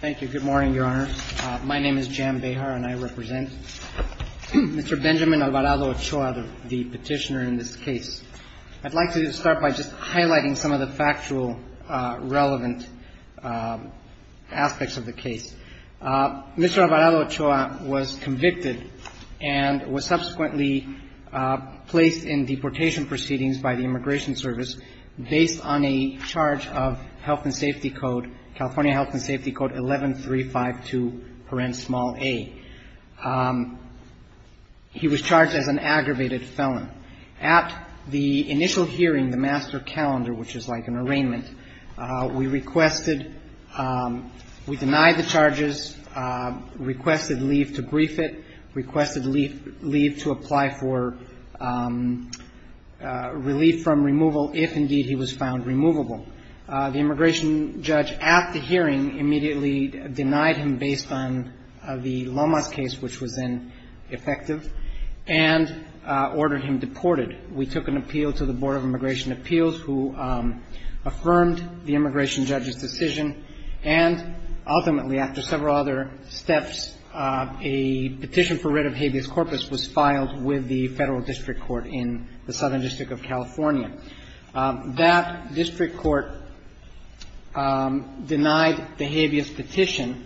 Thank you. Good morning, Your Honor. My name is Jan Behar and I represent Mr. Benjamin Alvarado-Ochoa, the petitioner in this case. I'd like to start by just highlighting some of the factual relevant aspects of the case. Mr. Alvarado-Ochoa was convicted and was subsequently placed in deportation proceedings by the Immigration Service based on a charge of Health and Safety Code, California Health and Safety Code 11-352-a. He was charged as an aggravated felon. At the initial hearing, the master calendar, which is like an arraignment, we requested, we denied the charges, requested leave to brief it, requested leave to apply for relief from removal if indeed he was found removable. The immigration judge at the hearing immediately denied him based on the Lomas case, which was then effective, and ordered him deported. We took an appeal to the Board of Immigration Appeals, who affirmed the immigration judge's decision. And ultimately, after several other steps, a petition for writ of habeas corpus was filed with the Federal District Court in the Southern District of California. That district court denied the habeas petition,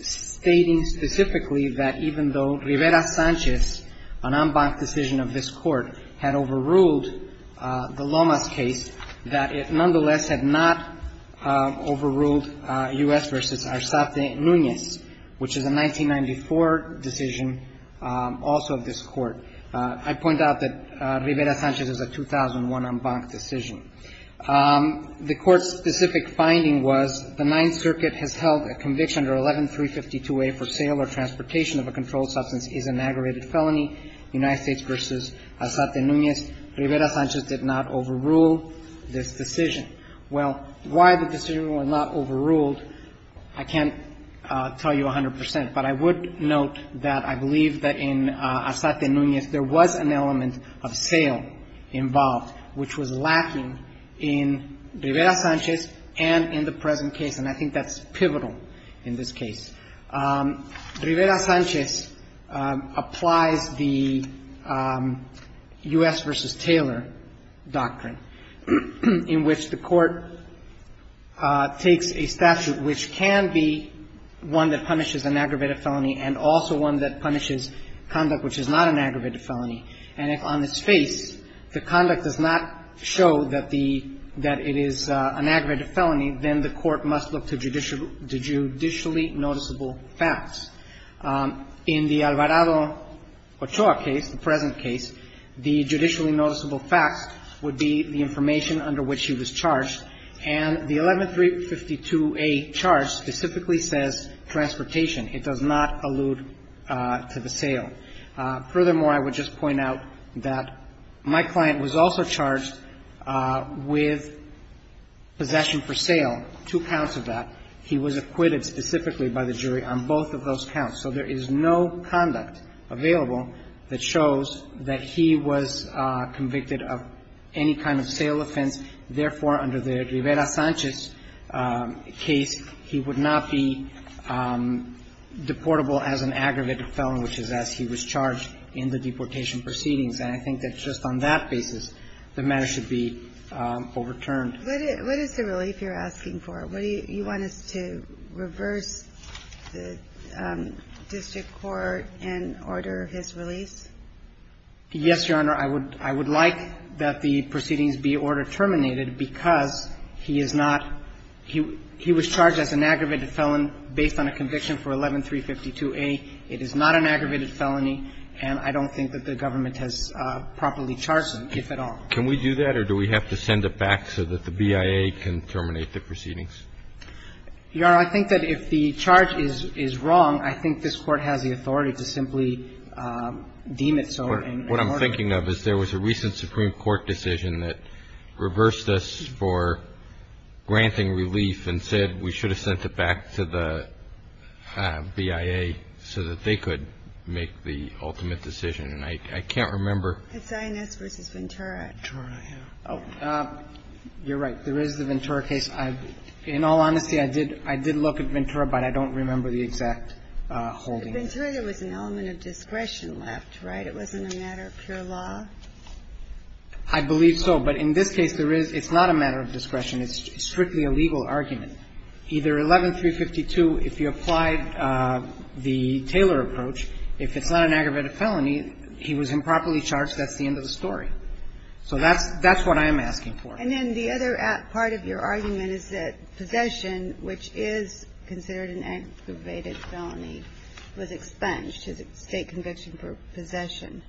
stating specifically that even though Rivera-Sanchez, an en banc decision of this Court, had overruled the Lomas case, that it nonetheless had not overruled U.S. v. Arzate Nunez, which is a 1994 decision also of this Court. I point out that Rivera-Sanchez is a 2001 en banc decision. The Court's specific finding was the Ninth Circuit has held a conviction under 11-352A for sale or transportation of a controlled substance is an aggravated felony, United States v. Arzate Nunez. Rivera-Sanchez did not overrule this decision. Well, why the decision was not overruled, I can't tell you a hundred percent, but I would note that I believe that in Arzate Nunez there was an element of sale involved, which was lacking in Rivera-Sanchez and in the present case. And I think that's pivotal in this case. Rivera-Sanchez applies the U.S. v. Taylor doctrine, in which the Court takes a statute, which can be one that punishes an aggravated felony and also one that punishes conduct which is not an aggravated felony. And if on its face the conduct does not show that the — that it is an aggravated felony, then the Court must look to judicially noticeable facts. In the Alvarado-Ochoa case, the present case, the judicially noticeable facts would be the information under which he was charged. And the 11352A charge specifically says transportation. It does not allude to the sale. Furthermore, I would just point out that my client was also charged with possession for sale, two counts of that. He was acquitted specifically by the jury on both of those counts. So there is no conduct available that shows that he was convicted of any kind of sale offense. Therefore, under the Rivera-Sanchez case, he would not be deportable as an aggravated felony, which is as he was charged in the deportation proceedings. And I think that just on that basis, the matter should be overturned. What is the relief you're asking for? You want us to reverse the district court and order his release? Yes, Your Honor. I would like that the proceedings be order terminated because he is not — he was charged as an aggravated felon based on a conviction for 11352A. It is not an aggravated felony. And I don't think that the government has properly charged him, if at all. Can we do that, or do we have to send it back so that the BIA can terminate the proceedings? Your Honor, I think that if the charge is wrong, I think this Court has the authority to simply deem it so and order it. What I'm thinking of is there was a recent Supreme Court decision that reversed us for granting relief and said we should have sent it back to the BIA so that they could make the ultimate decision. And I can't remember — It's Inez v. Ventura. Ventura, yeah. You're right. There is the Ventura case. In all honesty, I did look at Ventura, but I don't remember the exact holding. At Ventura, there was an element of discretion left, right? It wasn't a matter of pure law? I believe so. But in this case, there is — it's not a matter of discretion. It's strictly a legal argument. Either 11352, if you applied the Taylor approach, if it's not an aggravated felony, he was improperly charged, that's the end of the story. So that's what I'm asking for. And then the other part of your argument is that possession, which is considered an aggravated felony, was expunged, state conviction for possession.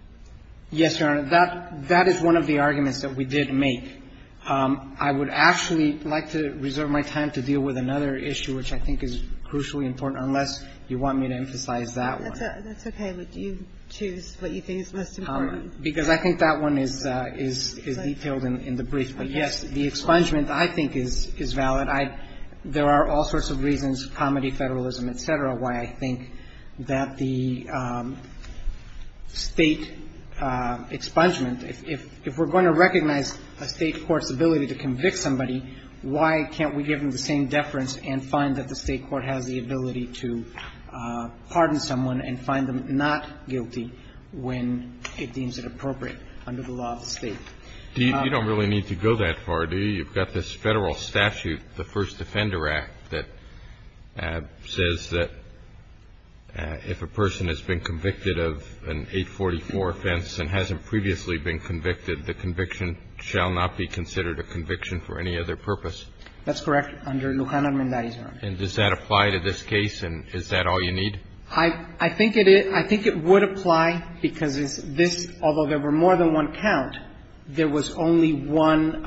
Yes, Your Honor. That is one of the arguments that we did make. I would actually like to reserve my time to deal with another issue, which I think is crucially important, unless you want me to emphasize that one. That's okay. But do you choose what you think is most important? Because I think that one is detailed in the brief. But, yes, the expungement, I think, is valid. There are all sorts of reasons, comedy, federalism, et cetera, why I think that the State expungement, if we're going to recognize a State court's ability to convict somebody, why can't we give them the same deference and find that the State court has the ability to pardon someone and find them not guilty when it deems it appropriate under the law of the State? You don't really need to go that far, do you? You've got this Federal statute, the First Defender Act, that says that if a person has been convicted of an 844 offense and hasn't previously been convicted, the conviction shall not be considered a conviction for any other purpose. That's correct. Under Lujan Armendariz, Your Honor. And does that apply to this case, and is that all you need? I think it is. I think it would apply because this, although there were more than one count, there was only one.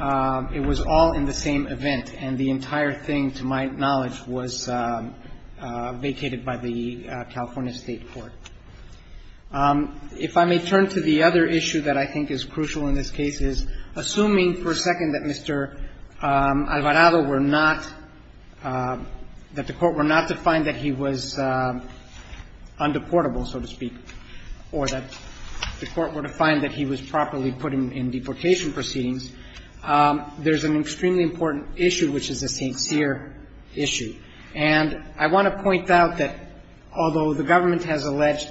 It was all in the same event, and the entire thing, to my knowledge, was vacated by the California State court. If I may turn to the other issue that I think is crucial in this case is, assuming for a second that Mr. Alvarado were not, that the Court were not to find that he was undeportable, so to speak, or that the Court were to find that he was properly put in deportation proceedings, there's an extremely important issue, which is a sincere issue. And I want to point out that although the government has alleged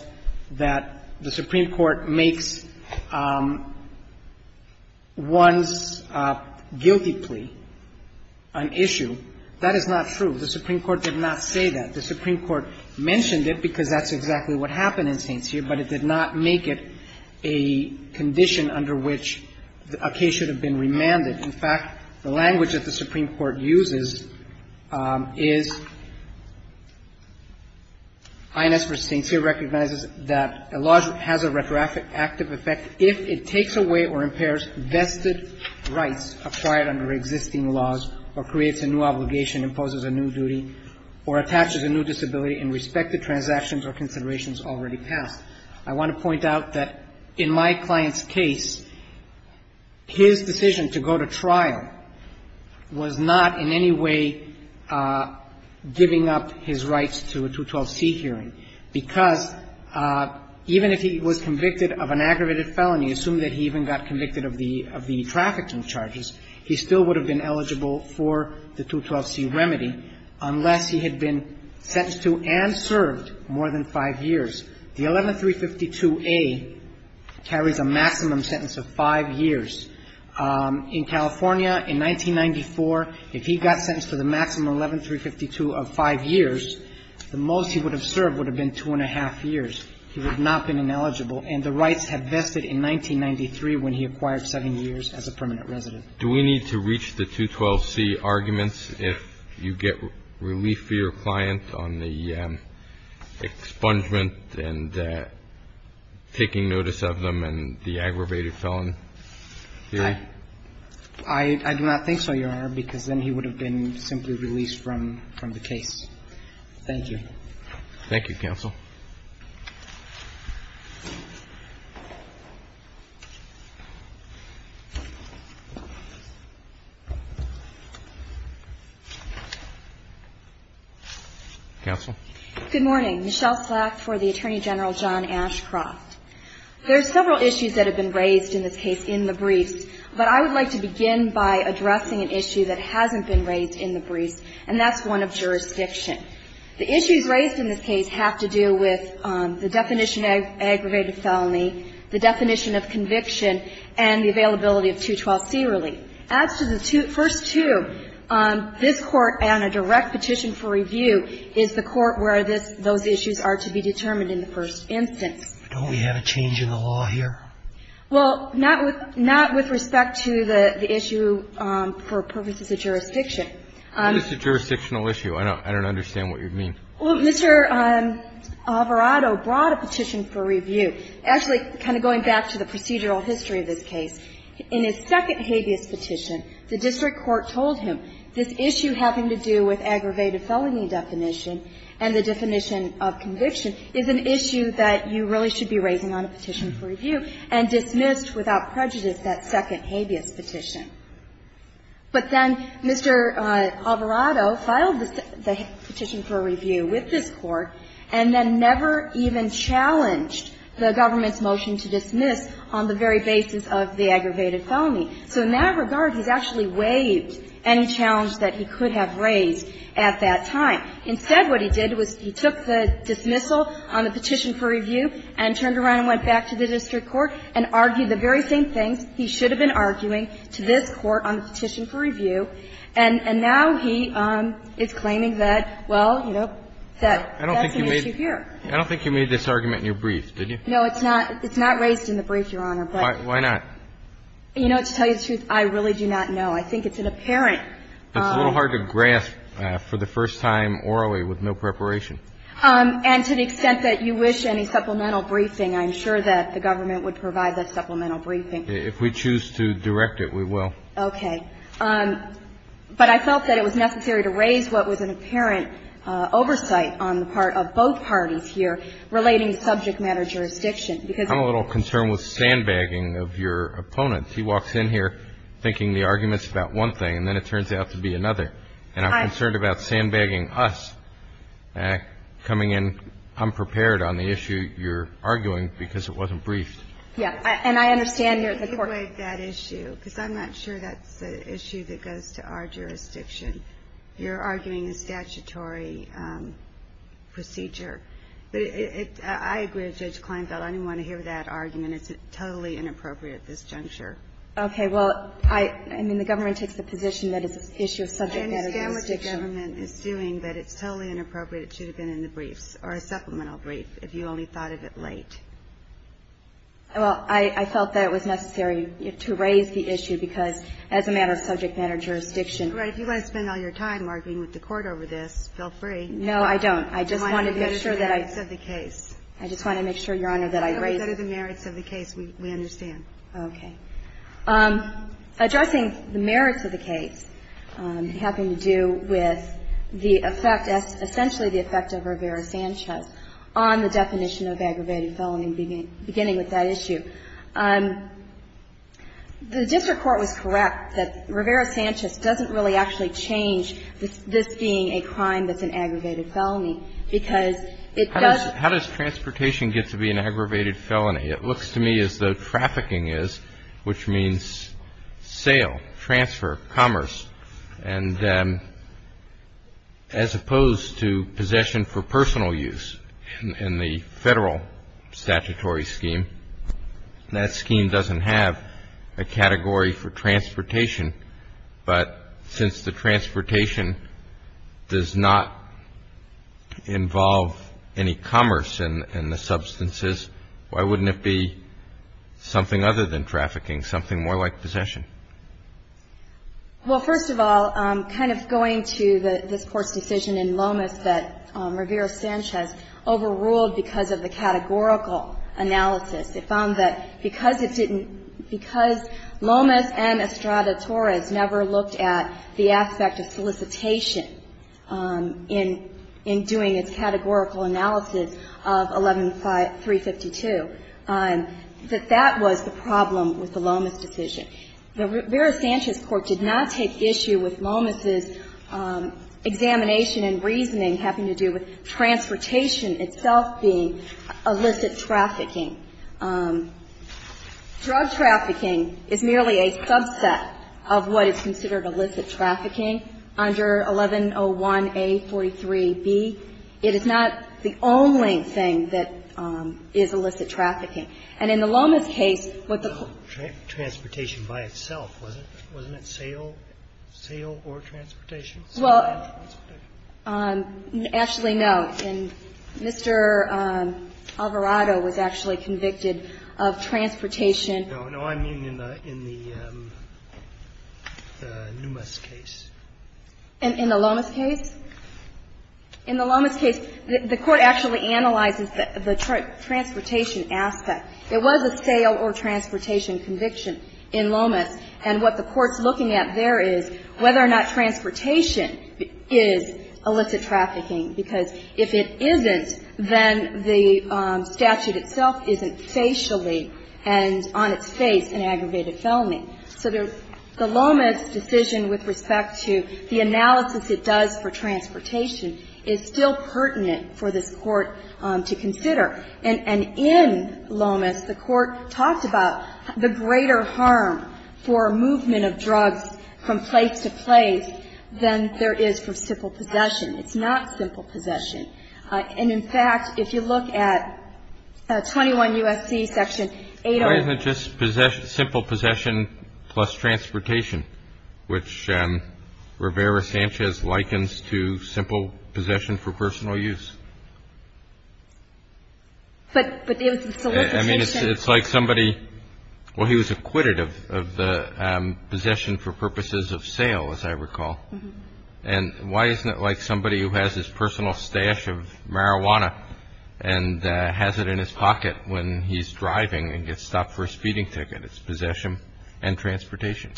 that the Supreme Court did not make this guilty plea an issue, that is not true. The Supreme Court did not say that. The Supreme Court mentioned it because that's exactly what happened in St. Cyr, but it did not make it a condition under which a case should have been remanded. In fact, the language that the Supreme Court uses is, INS v. St. Cyr recognizes that a lawsuit has a retroactive effect if it takes away or impairs vested rights acquired under existing laws or creates a new obligation, imposes a new duty, or attaches a new disability in respect to transactions or considerations already passed. I want to point out that in my client's case, his decision to go to trial was not in any way giving up his rights to a 212C hearing, because even if he was convicted of an aggravated felony, assume that he even got convicted of the trafficking charges, he still would have been eligible for the 212C remedy unless he had been sentenced to and served more than five years. The 11-352A carries a maximum sentence of five years. In California, in 1994, if he got sentenced to the maximum 11-352 of five years, the most he would have served would have been two and a half years. He would not have been ineligible, and the rights had vested in 1993 when he acquired seven years as a permanent resident. Do we need to reach the 212C arguments if you get relief for your client on the expungement and taking notice of them and the aggravated felony? I don't think so, Your Honor, because then he would have been simply released from the case. Thank you. Thank you, counsel. Counsel? Good morning. Michelle Slack for the Attorney General, John Ashcroft. There are several issues that have been raised in this case in the briefs, but I would like to begin by addressing an issue that hasn't been raised in the briefs, and that's one of jurisdiction. The issues raised in this case have to do with the definition of aggravated felony, the definition of conviction, and the availability of 212C relief. As to the first two, this Court and a direct petition for review is the Court where those issues are to be determined in the first instance. Don't we have a change in the law here? Well, not with respect to the issue for purposes of jurisdiction. It's a jurisdictional issue. I don't understand what you mean. Well, Mr. Alvarado brought a petition for review. Actually, kind of going back to the procedural history of this case, in his second habeas petition, the district court told him this issue having to do with aggravated So in that regard, he's actually waived any challenge that he could have raised Instead, what he did was he took the dismissal on the petition for review and dismissed without prejudice that second habeas petition. But then Mr. Alvarado filed the petition for review with this Court and then never even challenged the government's motion to dismiss on the very basis of the aggravated felony. So in that regard, he's actually waived any challenge that he could have raised at that time. Instead, what he did was he took the dismissal on the petition for review and turned around and went back to the district court and argued the very same things he should have been arguing to this Court on the petition for review. And now he is claiming that, well, you know, that's an issue here. I don't think you made this argument in your brief, did you? No, it's not. It's not raised in the brief, Your Honor. Why not? You know, to tell you the truth, I really do not know. I think it's an apparent It's a little hard to grasp for the first time orally with no preparation. And to the extent that you wish any supplemental briefing, I'm sure that the government would provide that supplemental briefing. If we choose to direct it, we will. Okay. But I felt that it was necessary to raise what was an apparent oversight on the part of both parties here relating subject matter jurisdiction, because I'm a little concerned with sandbagging of your opponent. He walks in here thinking the argument's about one thing, and then it turns out to be another. And I'm concerned about sandbagging us, coming in unprepared on the issue you're arguing because it wasn't briefed. Yes. And I understand you're at the court. Let me take away that issue, because I'm not sure that's an issue that goes to our jurisdiction. You're arguing a statutory procedure. But I agree with Judge Kleinfeld. I didn't want to hear that argument. It's totally inappropriate at this juncture. Okay. Well, I mean, the government takes the position that it's an issue of subject matter jurisdiction. I understand what the government is doing, but it's totally inappropriate. It should have been in the briefs, or a supplemental brief, if you only thought of it late. Well, I felt that it was necessary to raise the issue because as a matter of subject matter jurisdiction. All right. If you want to spend all your time arguing with the Court over this, feel free. No, I don't. I just want to make sure that I. I just want to make sure, Your Honor, that I raise. Those are the merits of the case. We understand. Okay. Addressing the merits of the case having to do with the effect, essentially the effect of Rivera-Sanchez on the definition of aggravated felony, beginning with that issue. The district court was correct that Rivera-Sanchez doesn't really actually How does transportation get to be an aggravated felony? It looks to me as though trafficking is, which means sale, transfer, commerce. And as opposed to possession for personal use in the Federal statutory scheme, that scheme doesn't have a category for transportation. But since the transportation does not involve any commerce in the substances, why wouldn't it be something other than trafficking, something more like possession? Well, first of all, kind of going to this Court's decision in Lomas that Rivera-Sanchez overruled because of the categorical analysis. It found that because it didn't, because Lomas and Estrada Torres never looked at the aspect of solicitation in doing its categorical analysis of 11352, that that was the problem with the Lomas decision. The Rivera-Sanchez court did not take issue with Lomas's examination and reasoning having to do with transportation itself being illicit trafficking. Drug trafficking is merely a subset of what is considered illicit trafficking under 1101A.43b. It is not the only thing that is illicit trafficking. And in the Lomas case, what the court Transportation by itself, wasn't it? Wasn't it sale, sale or transportation? Well, actually, no. And Mr. Alvarado was actually convicted of transportation. No, no. I mean in the Numas case. In the Lomas case? In the Lomas case, the court actually analyzes the transportation aspect. There was a sale or transportation conviction in Lomas. And what the court's looking at there is whether or not transportation is illicit trafficking, because if it isn't, then the statute itself isn't facially and on its face an aggravated felony. So the Lomas decision with respect to the analysis it does for transportation is still pertinent for this Court to consider. And in Lomas, the court talked about the greater harm for movement of drugs from place to place than there is for simple possession. It's not simple possession. And, in fact, if you look at 21 U.S.C. section 801 Why isn't it just simple possession plus transportation, which Rivera-Sanchez likens to simple possession for personal use? I mean, it's like somebody, well, he was acquitted of the possession for purposes of sale, as I recall. And why isn't it like somebody who has his personal stash of marijuana and has it in his pocket when he's driving and gets stopped for his feeding ticket? It's possession and transportation.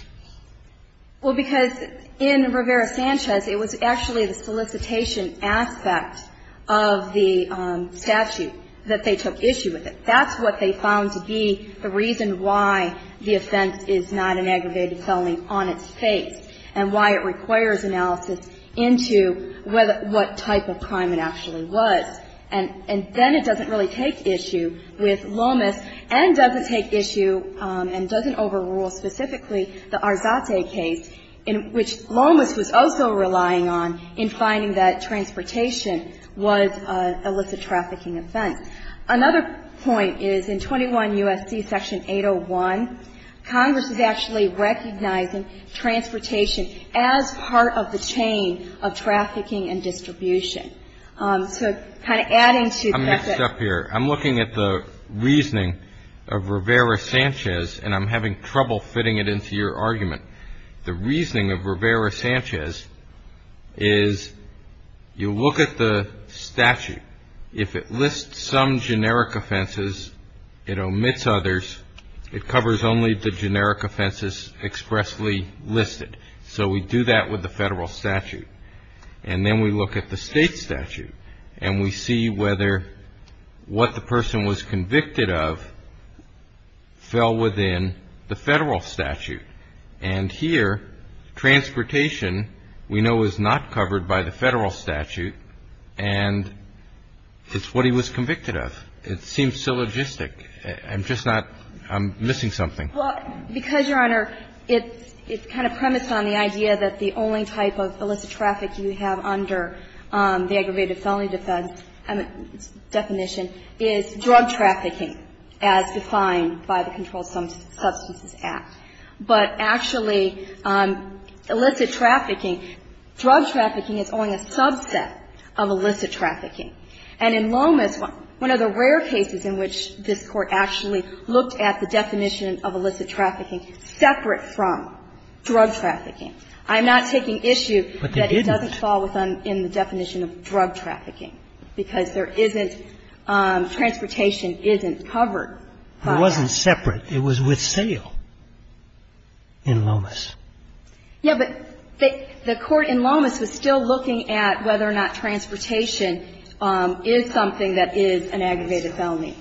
Well, because in Rivera-Sanchez, it was actually the solicitation aspect of the statute that they took issue with it. That's what they found to be the reason why the offense is not an aggravated felony on its face and why it requires analysis into what type of crime it actually was. And then it doesn't really take issue with Lomas and doesn't take issue and doesn't overrule specifically the Arzate case in which Lomas was also relying on in finding that transportation was an illicit trafficking offense. Another point is in 21 U.S.C. section 801, Congress is actually recognizing transportation as part of the chain of trafficking and distribution. So kind of adding to that. I'm going to stop here. I'm looking at the reasoning of Rivera-Sanchez, and I'm having trouble fitting it into your argument. The reasoning of Rivera-Sanchez is you look at the statute. If it lists some generic offenses, it omits others. It covers only the generic offenses expressly listed. So we do that with the federal statute. And then we look at the state statute, and we see whether what the person was convicted of fell within the federal statute. And here, transportation we know is not covered by the federal statute, and it's what he was convicted of. It seems syllogistic. I'm just not – I'm missing something. Well, because, Your Honor, it's kind of premised on the idea that the only type of illicit trafficking that's defined by the Controlled Substances Act, but actually, illicit trafficking, drug trafficking is only a subset of illicit trafficking. And in Lomas, one of the rare cases in which this Court actually looked at the definition of illicit trafficking separate from drug trafficking. I'm not taking issue that it doesn't fall within the definition of drug trafficking, because there isn't – transportation isn't covered by that. It wasn't separate. It was with sale in Lomas. Yeah, but the Court in Lomas was still looking at whether or not transportation is something that is an aggravated felony,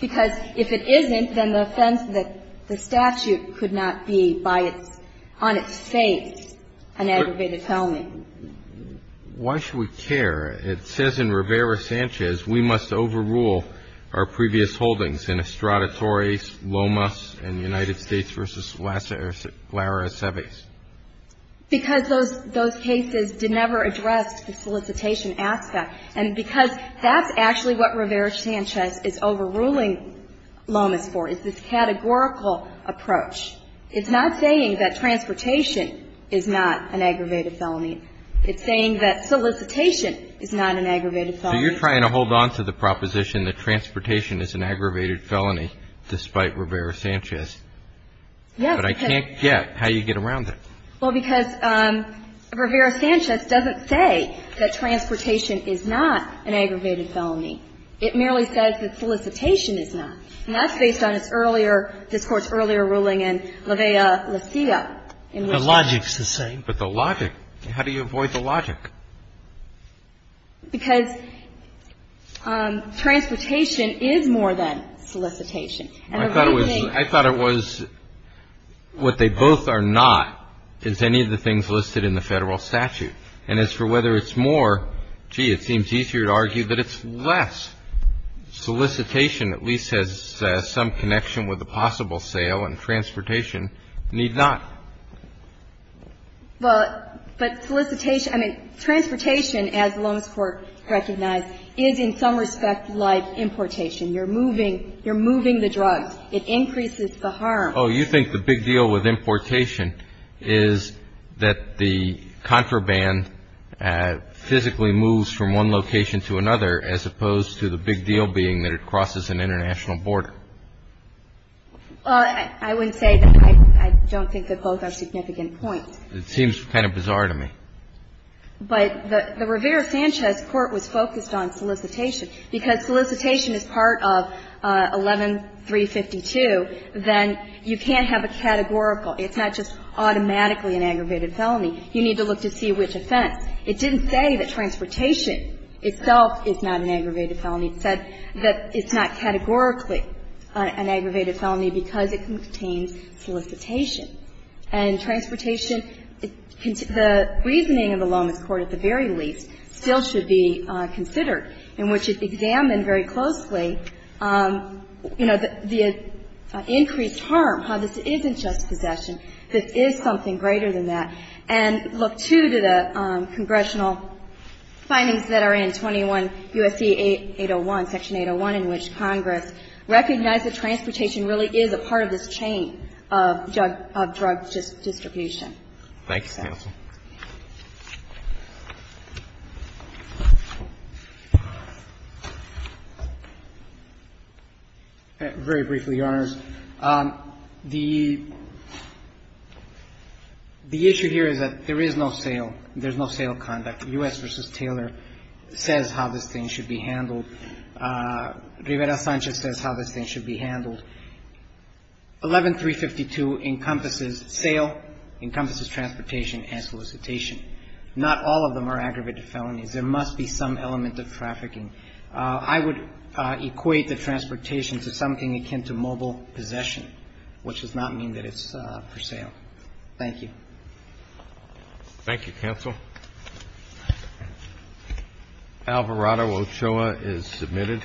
because if it isn't, then the statute could not be by its – on its face an aggravated felony. Why should we care? It says in Rivera-Sanchez, we must overrule our previous holdings in Estraditores, Lomas, and United States v. Lara Aceves. Because those cases did never address the solicitation aspect. And because that's actually what Rivera-Sanchez is overruling Lomas for, is this categorical approach. It's not saying that transportation is not an aggravated felony. It's saying that solicitation is not an aggravated felony. So you're trying to hold on to the proposition that transportation is an aggravated felony, despite Rivera-Sanchez. Yes. But I can't get how you get around that. Well, because Rivera-Sanchez doesn't say that transportation is not an aggravated felony. It merely says that solicitation is not. And that's based on its earlier – this Court's earlier ruling in La Vella La Silla. The logic's the same. But the logic. How do you avoid the logic? Because transportation is more than solicitation. I thought it was – I thought it was what they both are not is any of the things listed in the Federal statute. And as for whether it's more, gee, it seems easier to argue that it's less. Solicitation at least has some connection with the possible sale, and transportation need not. Well, but solicitation – I mean, transportation, as Long's Court recognized, is in some respect like importation. You're moving – you're moving the drugs. It increases the harm. Oh, you think the big deal with importation is that the contraband physically moves from one location to another as opposed to the big deal being that it crosses an international border. I wouldn't say that. I don't think that both are significant points. It seems kind of bizarre to me. But the Rivera-Sanchez Court was focused on solicitation. Because solicitation is part of 11-352, then you can't have a categorical. It's not just automatically an aggravated felony. You need to look to see which offense. It didn't say that transportation itself is not an aggravated felony. It said that it's not categorically an aggravated felony because it contains solicitation. And transportation, the reasoning of the Lowman's Court at the very least still should be considered, in which it examined very closely, you know, the increased harm, how this isn't just possession. This is something greater than that. And look, too, to the congressional findings that are in 21 U.S.C. 801, Section 801, in which Congress recognized that transportation really is a part of this chain of drug distribution. Thank you, counsel. Very briefly, Your Honors. The issue here is that there is no sale. There's no sale conduct. U.S. v. Taylor says how this thing should be handled. Rivera-Sanchez says how this thing should be handled. 11-352 encompasses sale, encompasses transportation and solicitation. Not all of them are aggravated felonies. There must be some element of trafficking. I would equate the transportation to something akin to mobile possession, which does not mean that it's for sale. Thank you. Thank you, counsel. Alvarado-Ochoa is submitted.